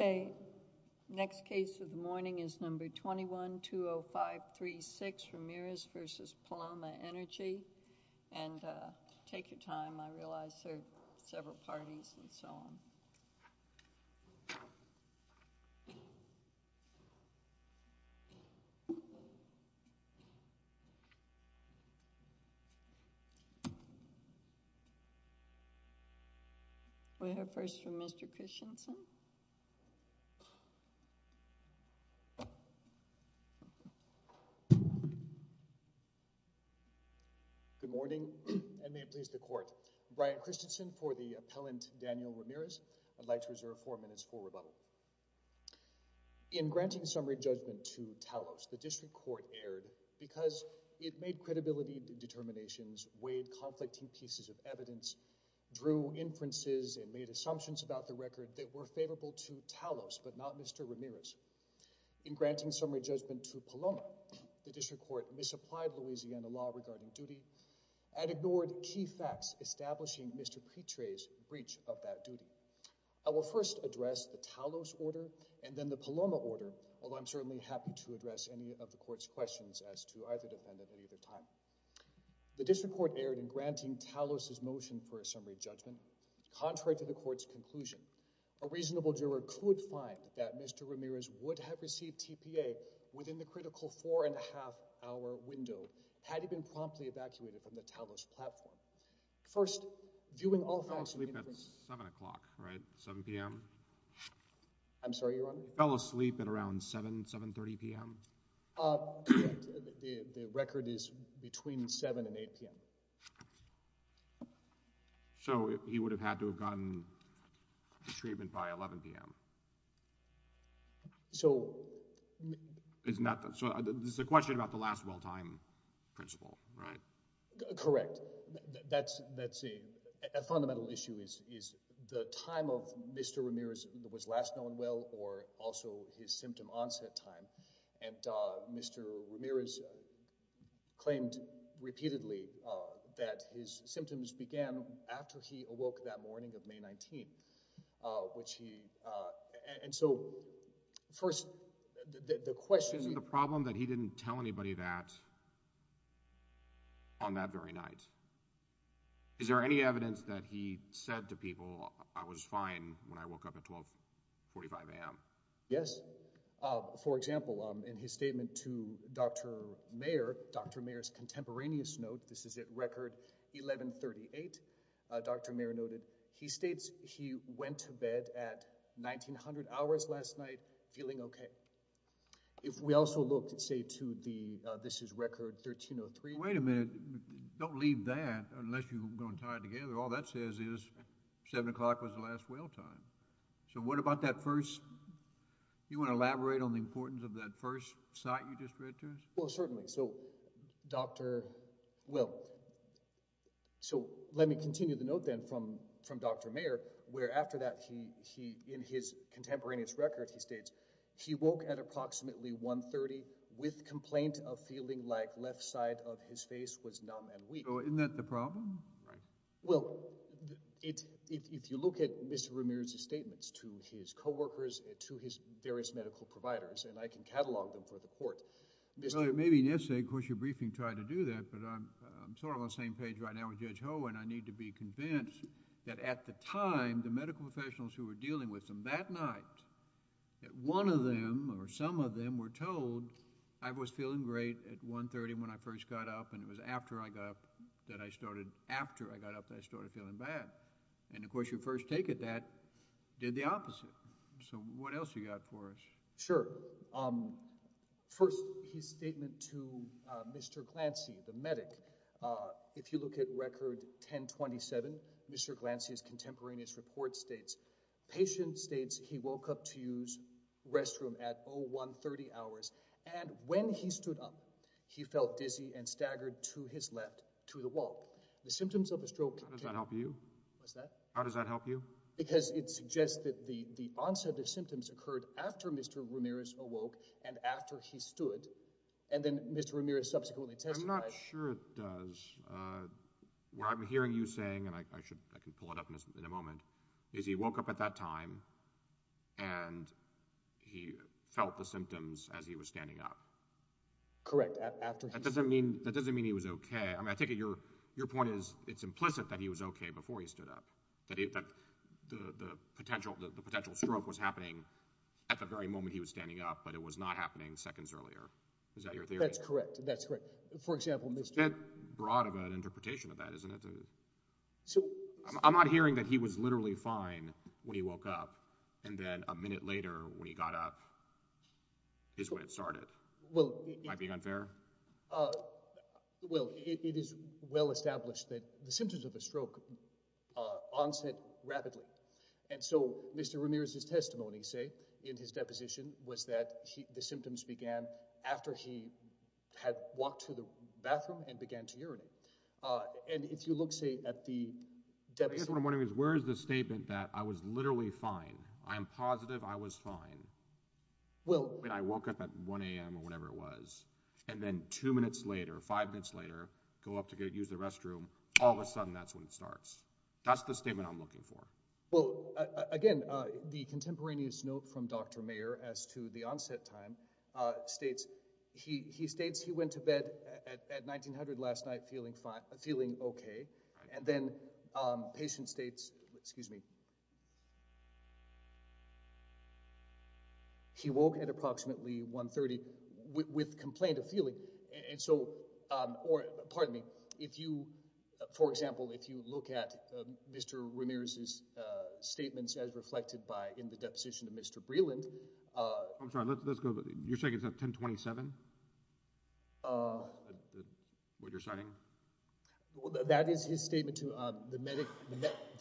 Okay, next case of the morning is number 21-20536, Ramirez v. Paloma Energy, and take your time. I realize there are several parties and so on. We'll have first from Mr. Christensen. Good morning, and may it please the court. Brian Christensen for the appellant Daniel Ramirez. I'd like to reserve four minutes for rebuttal. In granting summary judgment to Talos, the district court erred because it made credibility determinations, weighed conflicting pieces of evidence, drew inferences, and made assumptions about the record that were favorable to Talos but not Mr. Ramirez. In granting summary judgment to Paloma, the district court misapplied Louisiana law regarding duty and ignored key facts establishing Mr. Petrae's breach of that duty. I will first address the Talos order and then the Paloma order, although I'm certainly happy to address any of the court's questions as to either defendant at either time. The district court erred in granting Talos's motion for a summary judgment. Contrary to the court's conclusion, a reasonable juror could find that Mr. Ramirez would have received TPA within the critical four-and-a-half-hour window had he been promptly evacuated from the Talos platform. First, viewing all facts... Fell asleep at 7 o'clock, right? 7 p.m.? I'm sorry, Your Honor? Fell asleep at around 7, 7.30 p.m.? The record is between 7 and 8 p.m. So, he would have had to have gotten the treatment by 11 p.m.? So... So, this is a question about the last well time principle, right? Correct. That's a fundamental issue, is the time of Mr. Ramirez that was last known well or also his symptom claimed repeatedly that his symptoms began after he awoke that morning of May 19, which he... And so, first, the question... Isn't the problem that he didn't tell anybody that on that very night? Is there any evidence that he said to people, I was fine when I noted, he states, he went to bed at 1900 hours last night feeling okay. If we also look, say, to the... This is record 1303... Wait a minute, don't leave that unless you're going to tie it together. All that says is 7 o'clock was the last well time. So, what about that first... You want to elaborate on the importance of that first sight you just read to us? Well, certainly. So, Dr. Will... So, let me continue the note, then, from Dr. Mayer, where after that, in his contemporaneous record, he states, he woke at approximately 1.30 with complaint of feeling like left side of his face was numb and weak. So, isn't that the problem? Well, if you look at Mr. Ramirez's statements to his co-workers, to his various medical providers, and I can catalog them for the court... Well, it may be necessary. Of course, your briefing tried to do that, but I'm sort of on the same page right now with Judge Ho, and I need to be convinced that at the time, the medical professionals who were dealing with him that night, that one of them or some of them were told, I was feeling great at 1.30 when I first got up, and it was after I got up that I started... After I got up that I started feeling bad. And, of course, your first take at that did the opposite. So, what else you got for us? Sure. First, his statement to Mr. Glancy, the medic. If you look at record 1027, Mr. Glancy's contemporaneous report states, patient states he woke up to use restroom at 01.30 hours, and when he stood up, he felt dizzy and staggered to his left, to the wall. The symptoms of a stroke... How does that help you? Because it suggests that the onset of symptoms occurred after Mr. Ramirez awoke and after he stood, and then Mr. Ramirez subsequently testified... I'm not sure it does. What I'm hearing you saying, and I can pull it up in a moment, is he woke up at that time, and he felt the symptoms as he was standing up. Correct, after he stood. That doesn't mean he was okay. I mean, I take it your point is it's implicit that he was okay before he stood, and that the potential stroke was happening at the very moment he was standing up, but it was not happening seconds earlier. Is that your theory? That's correct, that's correct. For example, Mr... That's broad of an interpretation of that, isn't it? I'm not hearing that he was literally fine when he woke up, and then a minute later, when he got up, is when it started. Might be unfair? Well, it is well established that the symptoms of a stroke onset rapidly, and so Mr. Ramirez's testimony, say, in his deposition was that the symptoms began after he had walked to the bathroom and began to urinate, and if you look, say, at the deposition... I guess what I'm wondering is where is the statement that I was literally fine, I am positive I was fine, when I woke up at 1 a.m. or whenever it was, and then two minutes later, five minutes later, go up to go use the restroom, all of a sudden, that's when it starts. That's the statement I'm looking for. Well, again, the contemporaneous note from Dr. Mayer as to the onset time states, he states he went to bed at 1,900 last night feeling okay, and then patient states, excuse me, he woke at For example, if you look at Mr. Ramirez's statements as reflected by, in the deposition of Mr. Breland... I'm sorry, let's go, you're saying it's at 1027? What you're citing? That is his statement to the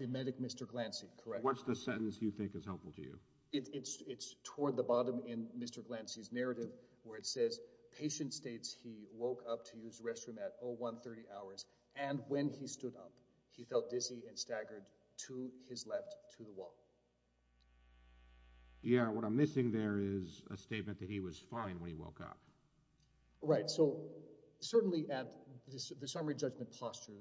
medic Mr. Glancy, correct? What's the sentence you think is helpful to you? It's toward the bottom in Mr. Glancy's narrative, where it says, patient states he woke up to use the restroom at 0130 hours, and when he stood up, he felt dizzy and staggered to his left, to the wall. Yeah, what I'm missing there is a statement that he was fine when he woke up. Right, so certainly at the summary judgment posture,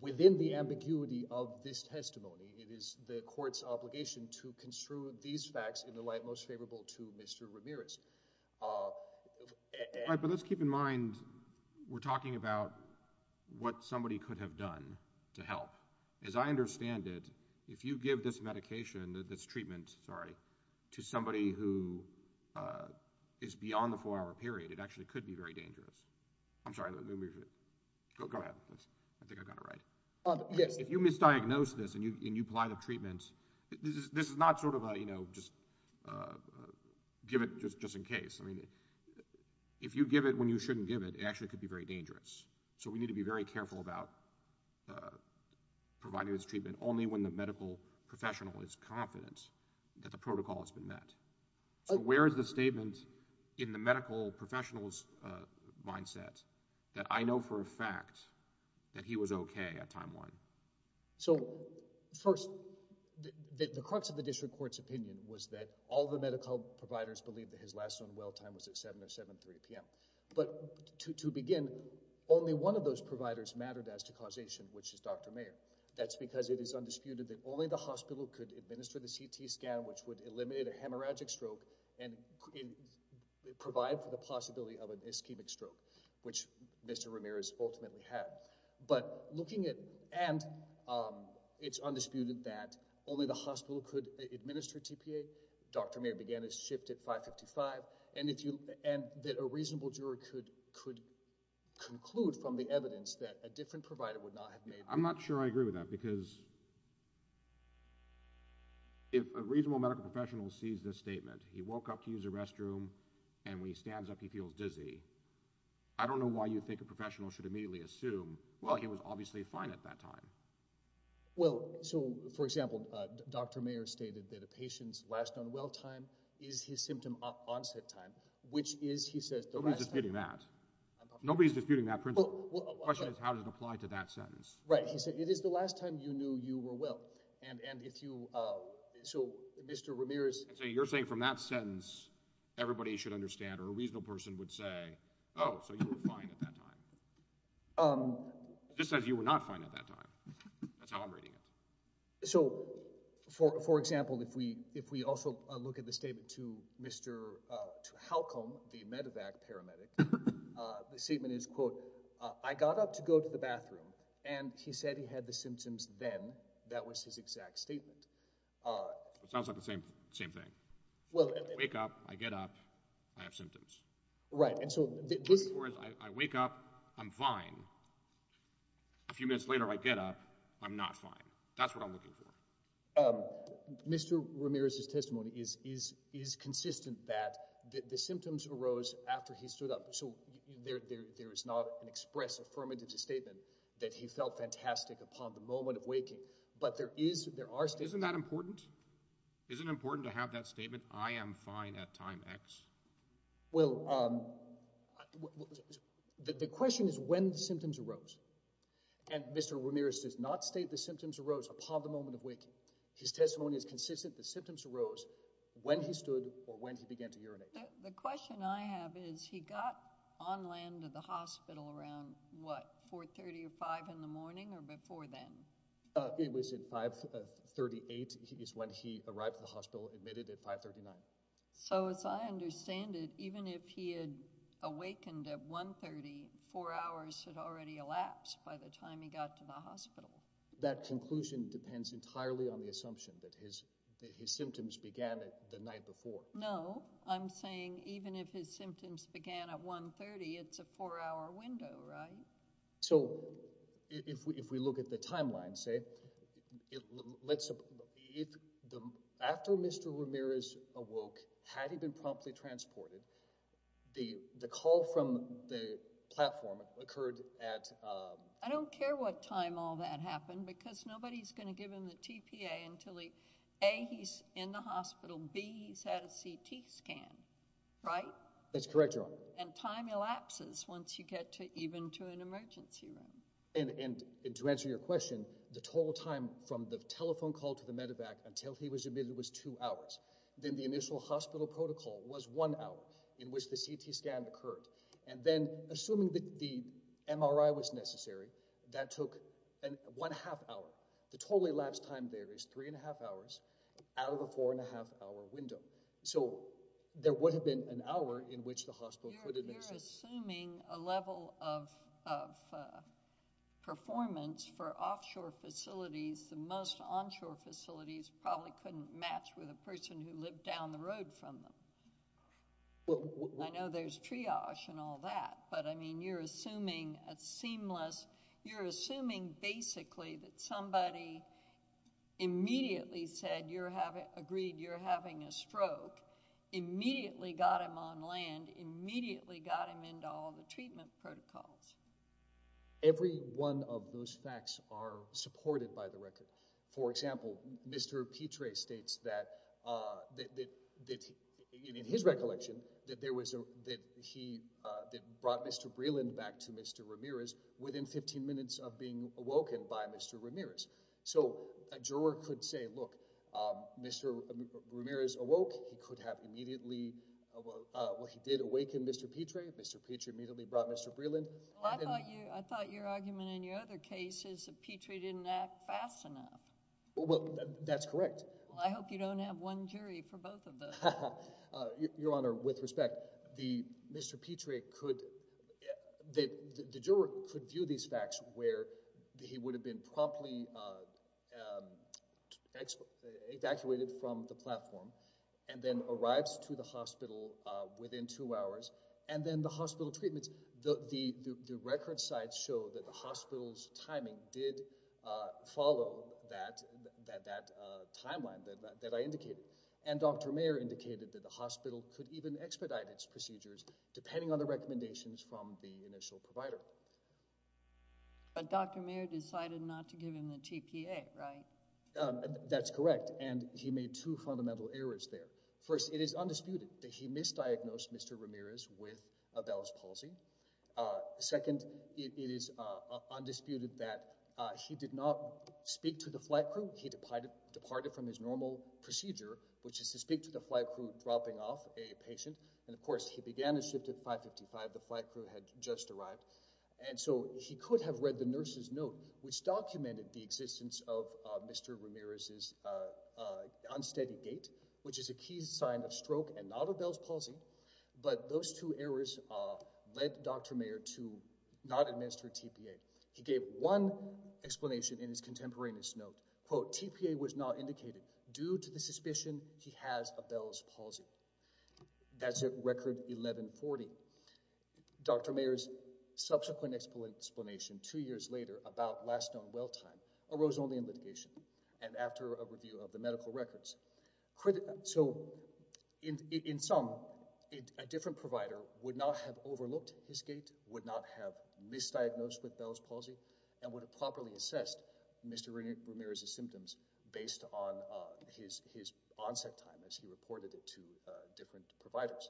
within the ambiguity of this testimony, it is the court's obligation to construe these to Mr. Ramirez. Right, but let's keep in mind, we're talking about what somebody could have done to help. As I understand it, if you give this medication, this treatment, sorry, to somebody who is beyond the four-hour period, it actually could be very dangerous. I'm sorry, go ahead, I think I got it right. If you misdiagnose this, and you apply the treatment, this is a, give it just in case. I mean, if you give it when you shouldn't give it, it actually could be very dangerous. So we need to be very careful about providing this treatment only when the medical professional is confident that the protocol has been met. So where is the statement in the medical professional's mindset that I know for a fact that he was the cause of this? Well, all of the medical providers believe that his last known well-time was at 7 or 7.30 p.m. But to begin, only one of those providers mattered as to causation, which is Dr. Mayer. That's because it is undisputed that only the hospital could administer the CT scan, which would eliminate a hemorrhagic stroke and provide for the possibility of an ischemic stroke, which Mr. Ramirez ultimately had. But looking at, and it's undisputed that only the hospital could administer TPA. Dr. Mayer began his shift at 5.55, and if you, and that a reasonable juror could conclude from the evidence that a different provider would not have made the decision. I'm not sure I agree with that, because if a reasonable medical professional sees this statement, he woke up to use the restroom, and when he stands up, he feels dizzy, I don't know why you think a professional should immediately assume, well, he was obviously fine at that time. Well, so, for example, Dr. Mayer stated that a patient's last known well-time is his symptom onset time, which is, he says, the last time. Nobody's disputing that. Nobody's disputing that principle. The question is how does it apply to that sentence? Right, he said, it is the last time you knew you were well. And if you, so Mr. Ramirez. So you're saying from that sentence, everybody should understand, or a reasonable person would say, oh, so you were fine at that time. Just as you were not fine at that time. That's how I'm reading it. So, for example, if we also look at the statement to Mr. Halcom, the medevac paramedic, the statement is, quote, I got up to go to the bathroom, and he said he had the symptoms then. That was his exact statement. Sounds like the same thing. Well, I wake up, I get up, I have symptoms. Right. And so, I wake up, I'm fine. A few minutes later, I get up, I'm not fine. That's what I'm looking for. Mr. Ramirez's testimony is consistent that the symptoms arose after he stood up. So there is not an express affirmative statement that he felt fantastic upon the Isn't that important? Is it important to have that statement? I am fine at time X. Well, the question is when the symptoms arose. And Mr. Ramirez does not state the symptoms arose upon the moment of waking. His testimony is consistent. The symptoms arose when he stood or when he began to urinate. The question I have is he got on land to the hospital around what, 4.30 or 5 in the morning or before then? It was at 5.38 is when he arrived at the hospital, admitted at 5.39. So, as I understand it, even if he had awakened at 1.30, four hours had already elapsed by the time he got to the hospital. That conclusion depends entirely on the assumption that his symptoms began the night before. No, I'm saying even if his symptoms began at 1.30, it's a four-hour window, right? So, if we look at the timeline, after Mr. Ramirez awoke, had he been promptly transported, the call from the platform occurred at... I don't care what time all that happened because nobody's going to give him the TPA until he, A, he's in the hospital, B, he's had a CT scan, right? That's correct, Your Honor. And time elapses once you get to even to an emergency room. And to answer your question, the total time from the telephone call to the medevac until he was admitted was two hours. Then the initial hospital protocol was one hour in which the CT scan occurred. And then assuming the MRI was necessary, that took one half hour. The totally elapsed time there is three and a half hours out of a four and a half hour window. So, there would have been an hour in which the hospital could have... You're assuming a level of performance for offshore facilities. The most onshore facilities probably couldn't match with a person who lived down the road from them. Well, I know there's triage and all that, but I mean, you're assuming a seamless... You're assuming basically that somebody immediately said you're having... agreed you're having a stroke, immediately got him on land, immediately got him into all the treatment protocols. Every one of those facts are supported by the record. For example, Mr. Petrae states that that in his recollection that there was a... that he... that brought Mr. Breeland back to Mr. Ramirez within 15 minutes of being awoken by Mr. Ramirez. So, a juror could say, look, Mr. Ramirez awoke. He could have immediately... Well, he did awaken Mr. Petrae. Mr. Petrae immediately brought Mr. Breeland. I thought your argument in your other case is that Petrae didn't act fast enough. Well, that's correct. Well, I hope you don't have one jury for both of those. Your Honor, with respect, the... Mr. Petrae could... the juror could view these facts where he would have been promptly evacuated from the platform and then arrives to the hospital within two hours and then the record sites show that the hospital's timing did follow that... that timeline that I indicated. And Dr. Mayer indicated that the hospital could even expedite its procedures depending on the recommendations from the initial provider. But Dr. Mayer decided not to give him the TPA, right? That's correct. And he made two fundamental errors there. First, it is undisputed that he did not speak to the flight crew. He departed from his normal procedure, which is to speak to the flight crew dropping off a patient. And, of course, he began his shift at 555. The flight crew had just arrived. And so he could have read the nurse's note, which documented the existence of Mr. Ramirez's unsteady gait, which is a key sign of stroke and not of Bell's palsy. But those two errors led Dr. Mayer to not administer TPA. He gave one explanation in his contemporaneous note. Quote, TPA was not indicated. Due to the suspicion, he has a Bell's palsy. That's at record 1140. Dr. Mayer's subsequent explanation two years later about last known well time arose only in litigation and after a review of the medical records. So in some a different provider would not have overlooked his gait, would not have misdiagnosed with Bell's palsy, and would have properly assessed Mr. Ramirez's symptoms based on his onset time as he reported it to different providers.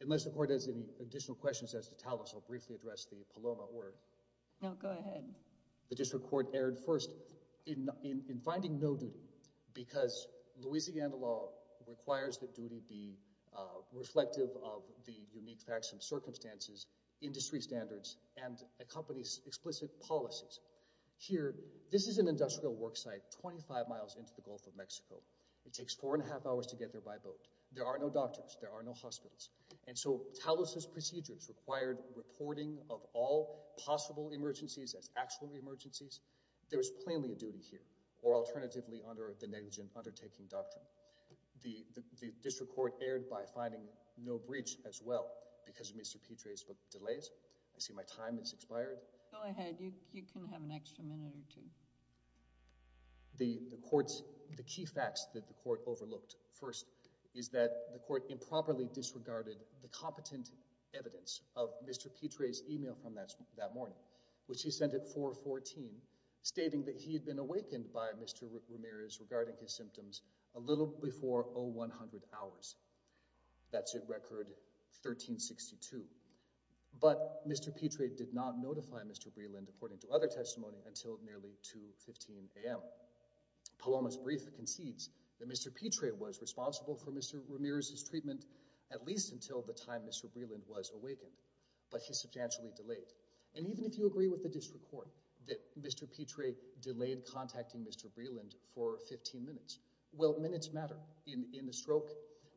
Unless the court has any additional questions as to Talas, I'll briefly address the Paloma order. No, go ahead. The district court erred first in finding no duty because Louisiana law requires that duty be reflective of the unique facts and circumstances, industry standards, and a company's explicit policies. Here, this is an industrial worksite 25 miles into the Gulf of Mexico. It takes four and a half hours to get there by boat. There are no doctors. There are no hospitals. And so Talas's procedures required reporting of all possible emergencies as actual emergencies. There is plainly a duty here or alternatively under the negligent undertaking doctrine. The district court erred by finding no breach as well because of Mr. Petrae's delays. I see my time has expired. Go ahead. You can have an extra minute or two. The court's, the key facts that the court overlooked first is that the court improperly reported the competent evidence of Mr. Petrae's email from that morning, which he sent at 414, stating that he had been awakened by Mr. Ramirez regarding his symptoms a little before 0100 hours. That's at record 1362. But Mr. Petrae did not notify Mr. Breland according to other testimony until nearly 2.15 a.m. Paloma's brief concedes that Mr. Petrae was responsible for Mr. Ramirez's until the time Mr. Breland was awakened, but he's substantially delayed. And even if you agree with the district court that Mr. Petrae delayed contacting Mr. Breland for 15 minutes, well, minutes matter in the stroke.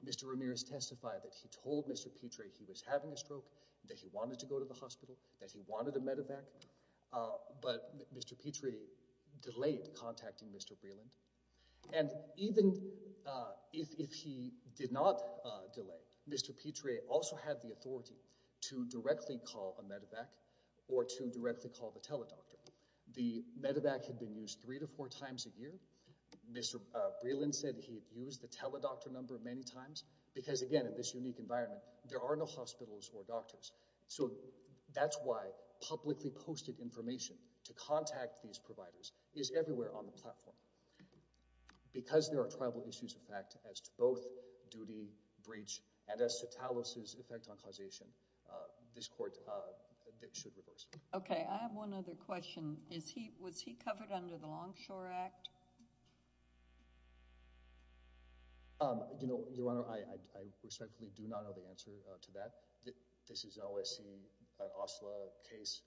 Mr. Ramirez testified that he told Mr. Petrae he was having a stroke, that he wanted to go to the hospital, that he wanted a medevac. But Mr. Petrae delayed contacting Mr. Breland. And even if he did not delay, Mr. Petrae also had the authority to directly call a medevac or to directly call the teledoctor. The medevac had been used three to four times a year. Mr. Breland said he had used the teledoctor number many times because, again, in this unique environment, there are no hospitals or doctors. So that's why publicly posted information to contact these providers is everywhere on the platform. Because there are tribal issues of fact as to both duty, breach, and as to Talos's effect on causation, this court should reverse it. Okay, I have one other question. Was he covered under the Longshore Act? You know, Your Honor, I respectfully do not know the answer to that. This is an OSC, OSLA case.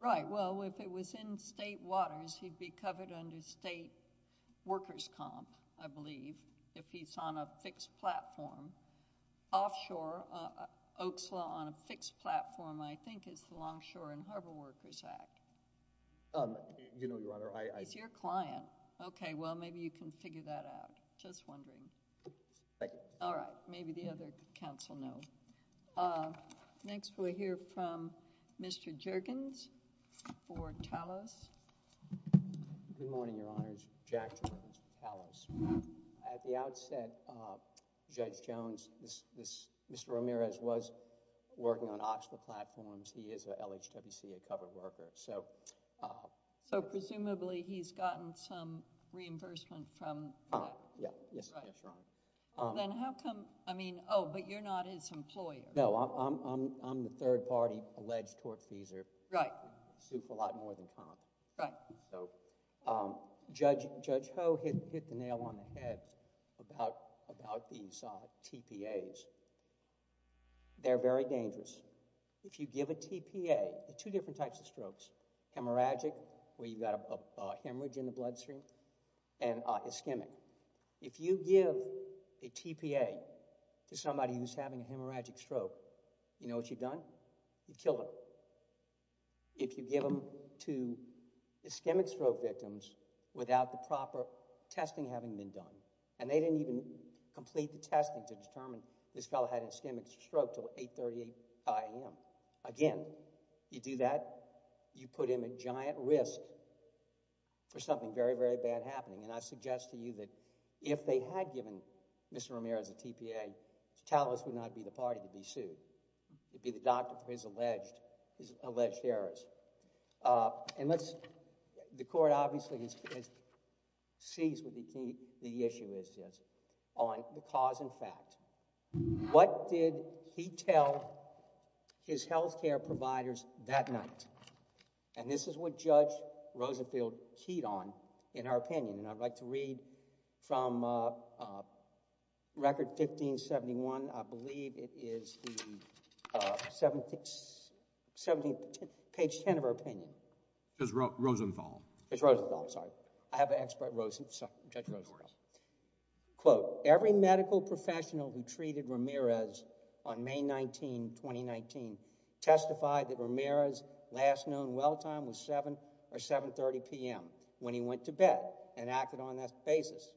Right, well, if it was in state waters, he'd be covered under state workers' comp, I believe, if he's on a fixed platform. Offshore, OCSLA on a fixed platform, I think it's the Longshore and Harbor Workers Act. You know, Your Honor, I... He's your client. Okay, well, maybe you can figure that out. Just wondering. Thank you. All right, maybe the other counsel know. Next, we'll hear from Mr. Jergens for Talos. Good morning, Your Honors. Jack Jergens for Talos. At the outset, Judge Jones, Mr. Ramirez was working on OCSLA platforms. He is a LHWCA covered worker. Presumably, he's gotten some reimbursement from that. Yes, Your Honor. Then how come... I mean, oh, but you're not his employer. No, I'm the third-party alleged tortfeasor. Right. I sue for a lot more than comp. Right. Judge Ho hit the nail on the hemorrhagic, where you've got a hemorrhage in the bloodstream, and ischemic. If you give a TPA to somebody who's having a hemorrhagic stroke, you know what you've done? You've killed them. If you give them to ischemic stroke victims without the proper testing having been done, and they didn't even complete the testing to determine this fellow had an ischemic stroke until 8.30 a.m., again, you do that, you put him at giant risk for something very, very bad happening. And I suggest to you that if they had given Mr. Ramirez a TPA, Talos would not be the party to be sued. It'd be the doctor for his alleged errors. And let's... the Court obviously has seized what the issue is on the cause and fact. What did he tell his health care providers that night? And this is what Judge Rosenfeld keyed on in her opinion. And I'd like to read from Record 1571. I believe it is the 17th... page 10 of her opinion. Judge Rosenfeld. Judge Rosenfeld, sorry. I have an expert... Judge Rosenfeld. Quote, every medical professional who treated Ramirez on May 19, 2019 testified that Ramirez's last known well time was 7 or 7.30 p.m. when he went to bed and acted on that basis.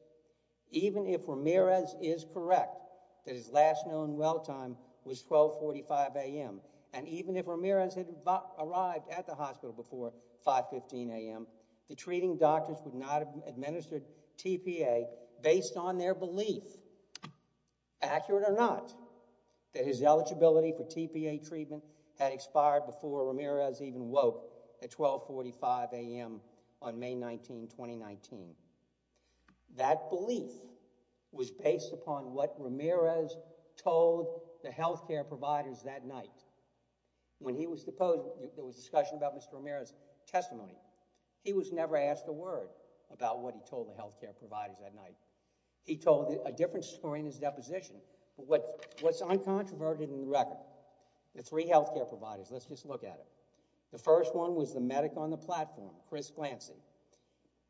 Even if Ramirez is correct that his last known well time was 12.45 a.m. and even if Ramirez had arrived at the hospital before 5.15 a.m., the treating doctors would not have administered TPA based on their belief, accurate or not, that his eligibility for TPA treatment had expired before Ramirez even woke at 12.45 a.m. on May 19, 2019. That belief was based upon what Ramirez told the health care providers that night. When he was deposed, there was discussion about Mr. Ramirez's testimony. He was never asked a word about what he told the health care providers that night. He told a different story in his deposition. But what's uncontroverted in the record, the three health care providers, let's just look at it. The first one was the medic on the platform, Chris Glancy.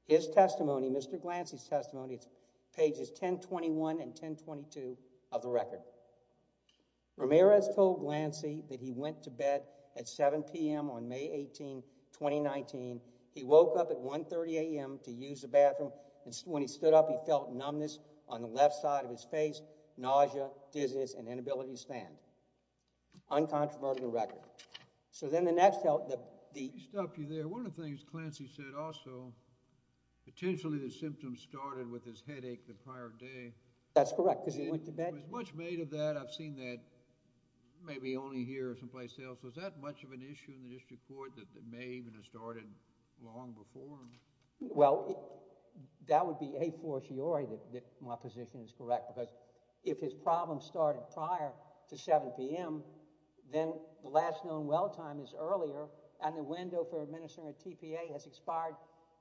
His testimony, Mr. Glancy's testimony, it's pages 1021 and 1022 of the record. Ramirez told Glancy that he went to bed at 7 p.m. on May 18, 2019. He woke up at 1.30 a.m. to use the bathroom and when he stood up, he felt numbness on the left side of his face, nausea, dizziness and inability to stand. Uncontroverted in the record. So then the next health, the, he stopped you there. One of the things Glancy said also, potentially the symptoms started with his headache the prior day. That's correct because he went to bed. It was much made of that. I've seen that maybe only here someplace else. Was that much of an issue in the district court that may even have started long before? Well, that would be a fortiori that my position is correct because if his problem started prior to 7 p.m., then the last known well time is earlier and the window for administering a tpa has expired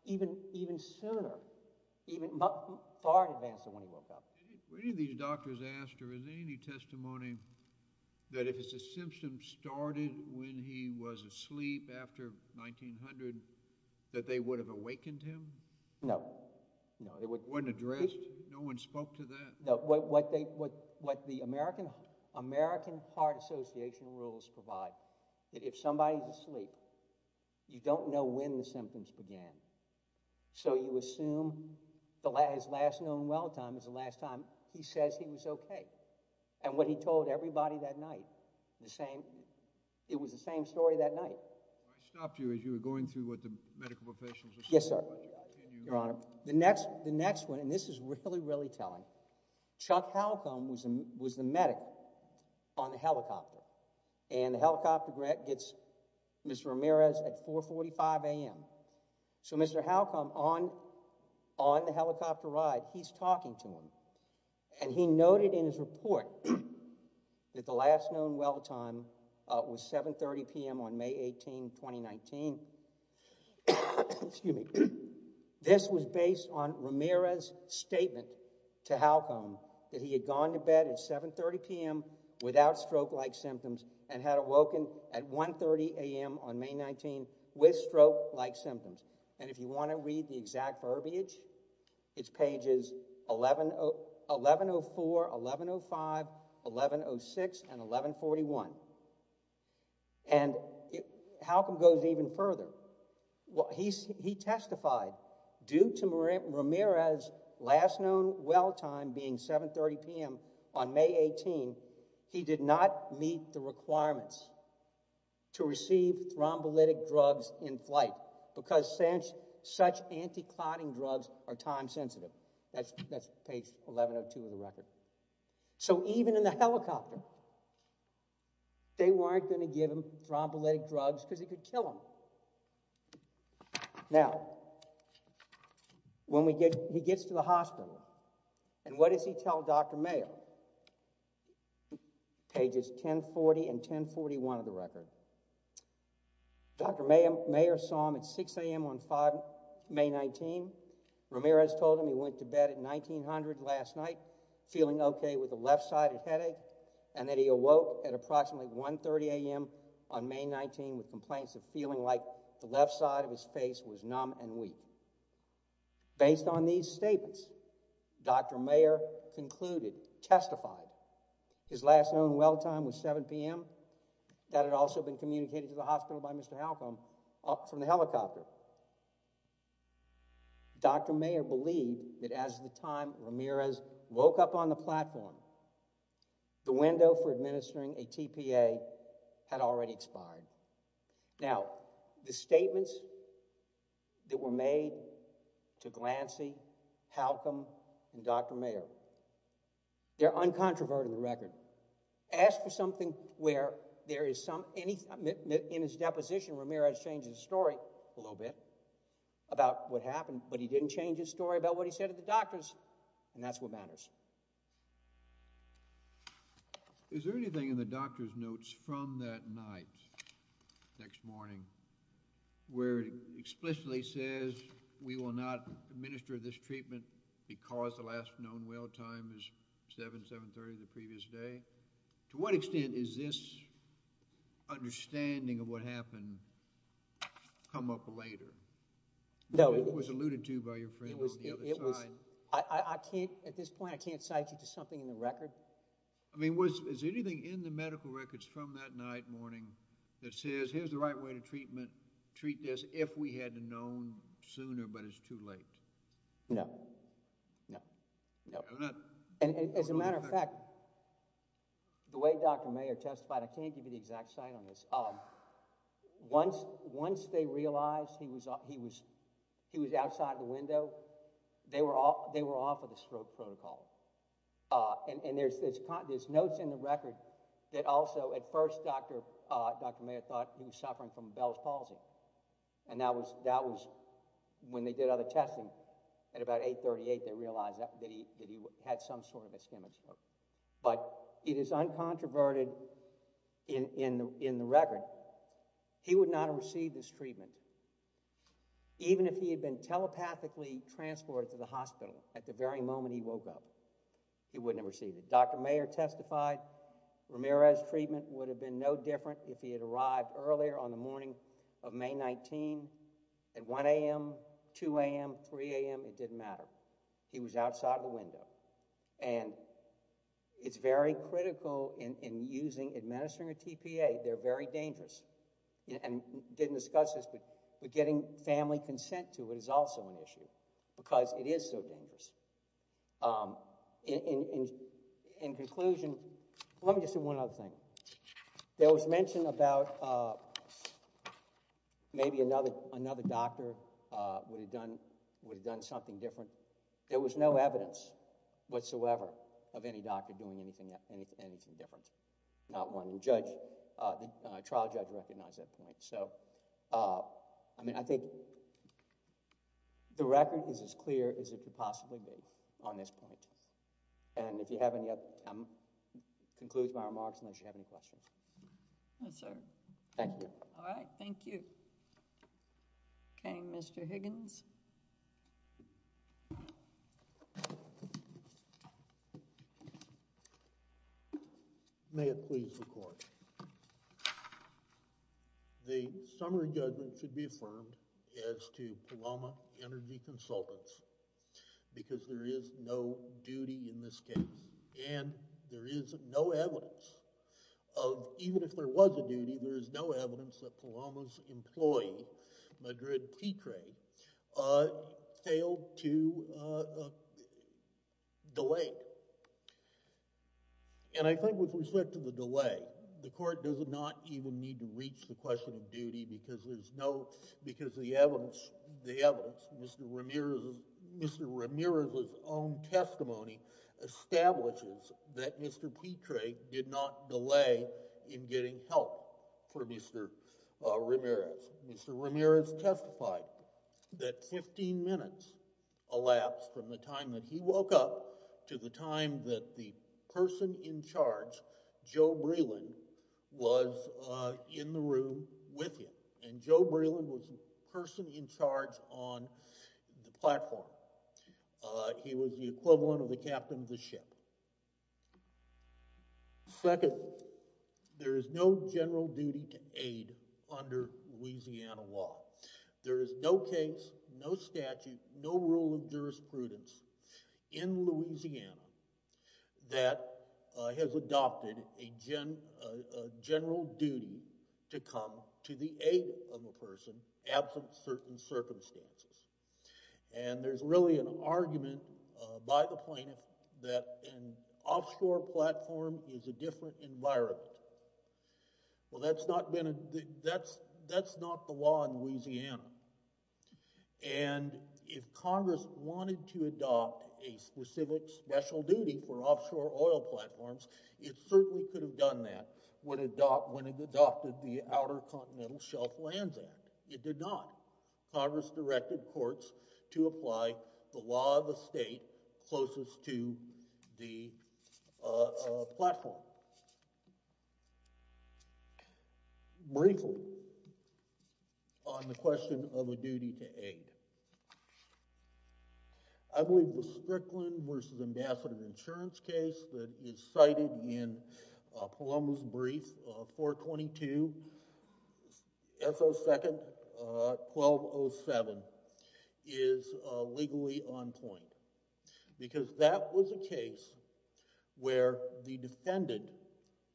even sooner, even far in advance of when he woke up. Any of these doctors asked, or is there any testimony that if his symptoms started when he was asleep after 1900, that they would have awakened him? No, no. It wasn't addressed? No one spoke to that? No, what the American Heart Association rules provide, that if somebody's asleep, you don't know when the symptoms began. So you assume the last, his last known well time is the last time he says he was okay. And what he told everybody that night, the same, it was the same story that night. I stopped you as you were going through what the medical professionals are saying. Yes, sir. Your honor, the next, the next one, and this is really, really Chuck Halcombe was the medic on the helicopter and the helicopter gets Mr. Ramirez at 4 45 a.m. So Mr. Halcombe on, on the helicopter ride, he's talking to him and he noted in his report that the last known well time was 7 30 p.m. on May 18, 2019. Excuse me. This was based on Ramirez's statement to Halcombe that he had gone to bed at 7 30 p.m. without stroke-like symptoms and had awoken at 1 30 a.m. on May 19 with stroke-like symptoms. And if you want to read the exact verbiage, it's pages 11, 1104, 1105, 1106, and 1141. And it, Halcombe goes even further. Well, he's, he testified due to Ramirez's last known well time being 7 30 p.m. on May 18, he did not meet the requirements to receive thrombolytic drugs in flight because such, such anti-clotting drugs are time sensitive. That's, that's page 1102 of the record. So even in the helicopter, they weren't going to give him thrombolytic drugs because it could kill him. Now, when we get, he gets to the hospital and what does he tell Dr. Mayer? Pages 1040 and 1041 of the record. Dr. Mayer, Mayer saw him at 6 a.m. on May 19. Ramirez told him he went to bed at 1900 last night, feeling okay with a left-sided headache and that he awoke at approximately 1 30 a.m. on May 19 with complaints of feeling like the left side of his face was numb and weak. Based on these statements, Dr. Mayer concluded, testified his last known well time was 7 p.m. That had also been communicated to the hospital by Mr. Halcom from the helicopter. Dr. Mayer believed that as the time Ramirez woke up on the platform, the window for administering a TPA had already expired. Now, the statements that were made to Glancy, Halcom, and Dr. Mayer, they're uncontroverted in the record. Ask for something where there is some, in his deposition, Ramirez changed his story a little bit about what happened, but he didn't change his story about what he said to the doctors and that's what matters. Is there anything in the doctor's notes from that night, next morning, where it explicitly says we will not administer this treatment because the last this understanding of what happened come up later? No, it was alluded to by your friend. I can't at this point, I can't cite you to something in the record. I mean, was is anything in the medical records from that night morning that says here's the right way to treat this if we had known sooner, but it's too late? No, no, no, and as a matter of fact, the way Dr. Mayer testified, I can't give you the exact site on this, um, once, once they realized he was, he was, he was outside the window, they were off, they were off of the stroke protocol, uh, and, and there's this, there's notes in the record that also at first Dr., uh, Dr. Mayer thought he was suffering from Bell's palsy and that was, that was when they did other testing at about 838. They realized that he, that he had some sort of ischemic stroke, but it is uncontroverted in, in, in the record. He would not have received this treatment, even if he had been telepathically transported to the hospital at the very moment he woke up, he wouldn't have received it. Dr. Mayer testified Ramirez treatment would have been no different if he had arrived earlier on the morning of May 19 at 1 a.m., 2 a.m., 3 a.m., it didn't matter. He was outside the window and it's very critical in, in using, administering a TPA. They're very dangerous and didn't discuss this, but, but getting family consent to it is also an issue because it is so dangerous. Um, in, in, in conclusion, let me just do one other thing. There was mention about, uh, maybe another, another doctor, uh, would have done, would have done something different. There was no evidence whatsoever of any doctor doing anything, anything, anything different. Not one judge, uh, the trial judge recognized that point. So, uh, I mean, I think the record is as clear as it could possibly be on this point. And if you have any other, um, concludes my remarks unless you have any questions. No, sir. Thank you. All right. Thank you. Okay. Mr. Higgins. May it please the court. The summary judgment should be affirmed as to Paloma Energy Consultants because there is no duty in this case and there is no evidence of, even if there was a duty, there is no evidence that Paloma's employee, Madrid Petre, uh, failed to, uh, uh, delay. And I think with respect to the delay, the court does not even need to reach the question of duty because there's no, because the evidence, the evidence, Mr. Ramirez's, Mr. Ramirez's own for Mr. Ramirez. Mr. Ramirez testified that 15 minutes elapsed from the time that he woke up to the time that the person in charge, Joe Breland, was, uh, in the room with him. And Joe Breland was the person in charge on the platform. Uh, he was the equivalent of the captain of the to aid under Louisiana law. There is no case, no statute, no rule of jurisprudence in Louisiana that has adopted a general duty to come to the aid of a person absent certain circumstances. And there's really an argument by the plaintiff that an offshore platform is a different environment. Well, that's not been, that's, that's not the law in Louisiana. And if Congress wanted to adopt a specific special duty for offshore oil platforms, it certainly could have done that when it adopted the Outer Continental Shelf Lands Act. It did not. Congress directed courts to apply the law of the state closest to the, uh, platform. Briefly, on the question of a duty to aid, I believe the Strickland versus Ambassador Insurance case that is cited in, uh, Palermo's brief, uh, 422 S.O. 2nd, uh, 1207, is, uh, legally on point. Because that was a case where the defendant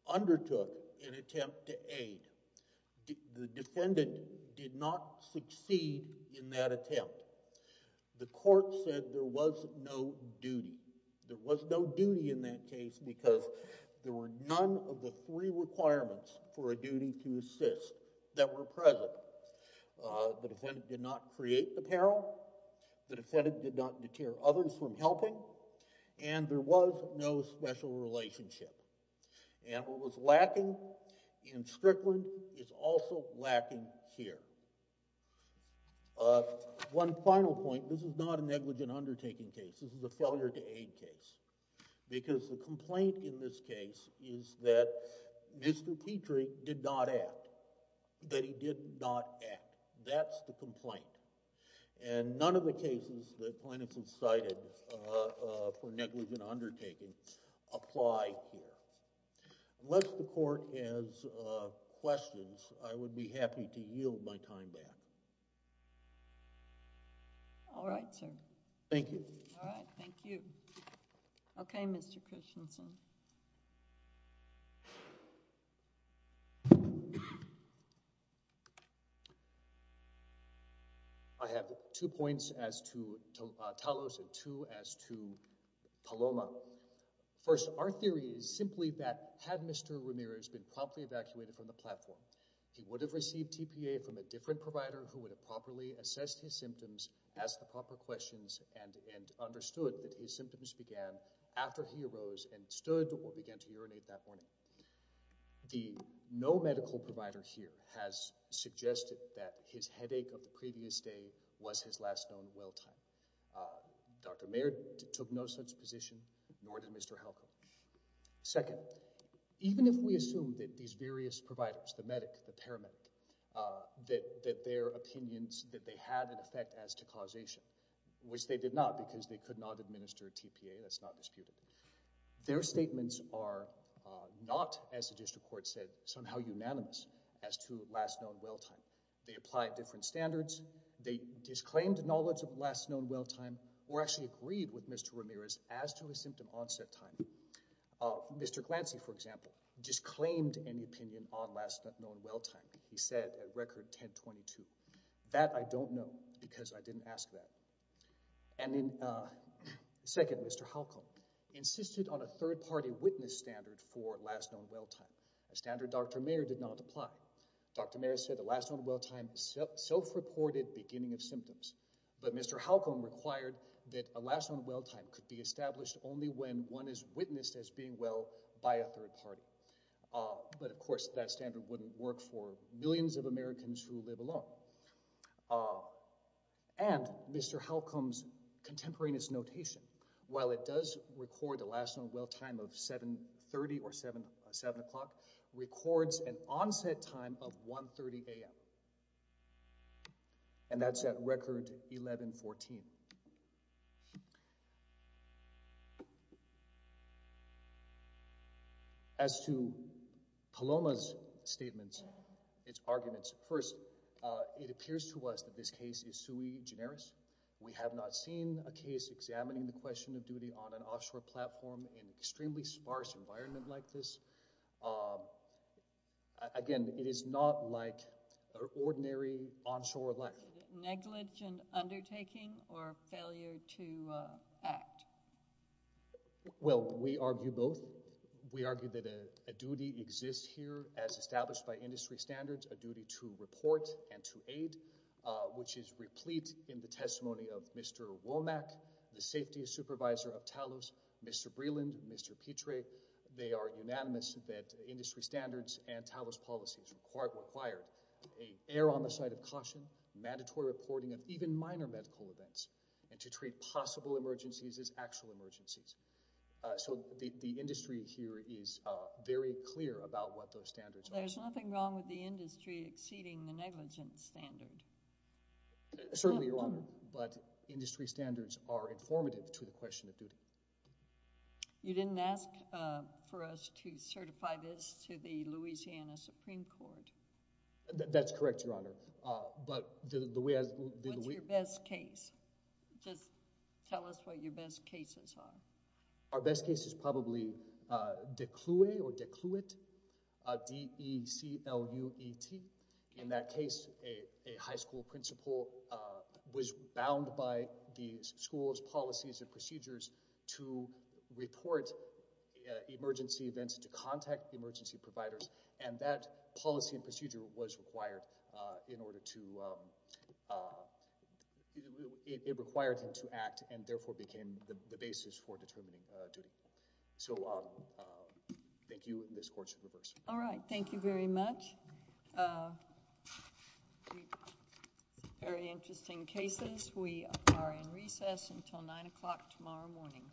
undertook an attempt to aid. The defendant did not succeed in that attempt. The court said there was no duty. There was no duty in that case because there were none of the three requirements for a duty to assist that were present. Uh, the defendant did not create the peril. The defendant did not deter others from helping. And there was no special relationship. And what was lacking in Strickland is also lacking here. Uh, one final point. This is not a negligent undertaking case. This is a failure to aid case. Because the complaint in this case is that Mr. Petrie did not act. That he did not act. That's the complaint. And none of the cases that plaintiff has cited, uh, uh, for negligent undertaking apply here. Unless the court has, uh, questions, I would be happy to yield my time back. All right, sir. Thank you. All right. Thank you. Okay, Mr. Christensen. I have two points as to, uh, Talos and two as to Paloma. First, our theory is simply that, had Mr. Ramirez been promptly evacuated from the platform, he would have received TPA from a different provider who would have properly assessed his symptoms, asked the proper questions, and, and understood that his symptoms began after he arose and stood or began to urinate that morning. The no medical provider here has suggested that his headache of the previous day was his last known well time. Uh, Dr. Mayer took no such position, nor did Mr. Halco. Second, even if we assume that these various providers, the medic, the paramedic, uh, that, that their opinions, that they had an effect as to causation, which they did not because they could not administer TPA, that's not disputed, their statements are, uh, not, as the district court said, somehow unanimous as to last known well time. They applied different standards. They disclaimed knowledge of last known well time or actually agreed with Mr. Ramirez as to his symptom onset time. Uh, Mr. Glancy, for example, disclaimed any opinion on last known well time. He said a record 1022. That I don't know because I didn't ask that. And then, uh, second, Mr. Halco insisted on a third party witness standard for last known well time. A standard Dr. Mayer did not apply. Dr. Mayer said the last known well time self-reported beginning of symptoms, but Mr. Halco required that a last known well time could be established only when one is witnessed as being well by a third party. Uh, but of course that standard wouldn't work for millions of Americans who live alone. Uh, and Mr. Halcom's contemporaneous notation, while it does record the last known well time of 730 or seven, seven o'clock records an onset time of 1 30 AM and that's at record 1114. As to Paloma's statements, its arguments, first, uh, it appears to us that this case is sui generis. We have not seen a case examining the question of duty on an offshore platform in extremely sparse environment like this. Um, again, it is not like our ordinary onshore life negligent undertaking or failure to act. Well, we argue both. We argue that a duty exists here as established by industry standards, a duty to report and to aid, uh, which is replete in the testimony of Mr. Womack, the safety supervisor of Talos, Mr. Breland, Mr. Petrae. They are unanimous that industry standards and Talos policies required, required a air on the side of caution, mandatory reporting of even minor medical events and to treat possible emergencies as actual emergencies. Uh, so the, the industry here is, uh, very clear about what those standards are. There's nothing wrong with the industry exceeding the negligence standard. Uh, certainly, Your Honor, but industry standards are informative to the question of duty. You didn't ask, uh, for us to certify this to the Louisiana Supreme Court. That's correct, Your Honor. Uh, but the, the way I, the, the way... What's your best case? Just tell us what your best cases are. Our best case is probably, uh, DECLUE or DECLUET, uh, D-E-C-L-U-E-T. In that case, a, a high school principal, uh, was bound by the school's policies and procedures to report, uh, emergency events, to contact the emergency providers. And that policy and procedure was required, uh, in order to, um, uh, it, it required him to act and therefore became the, the basis for determining, uh, duty. So, um, uh, thank you. This court should reverse. All right. Thank you very much. Uh, very interesting cases. We are in recess until 9 o'clock tomorrow morning.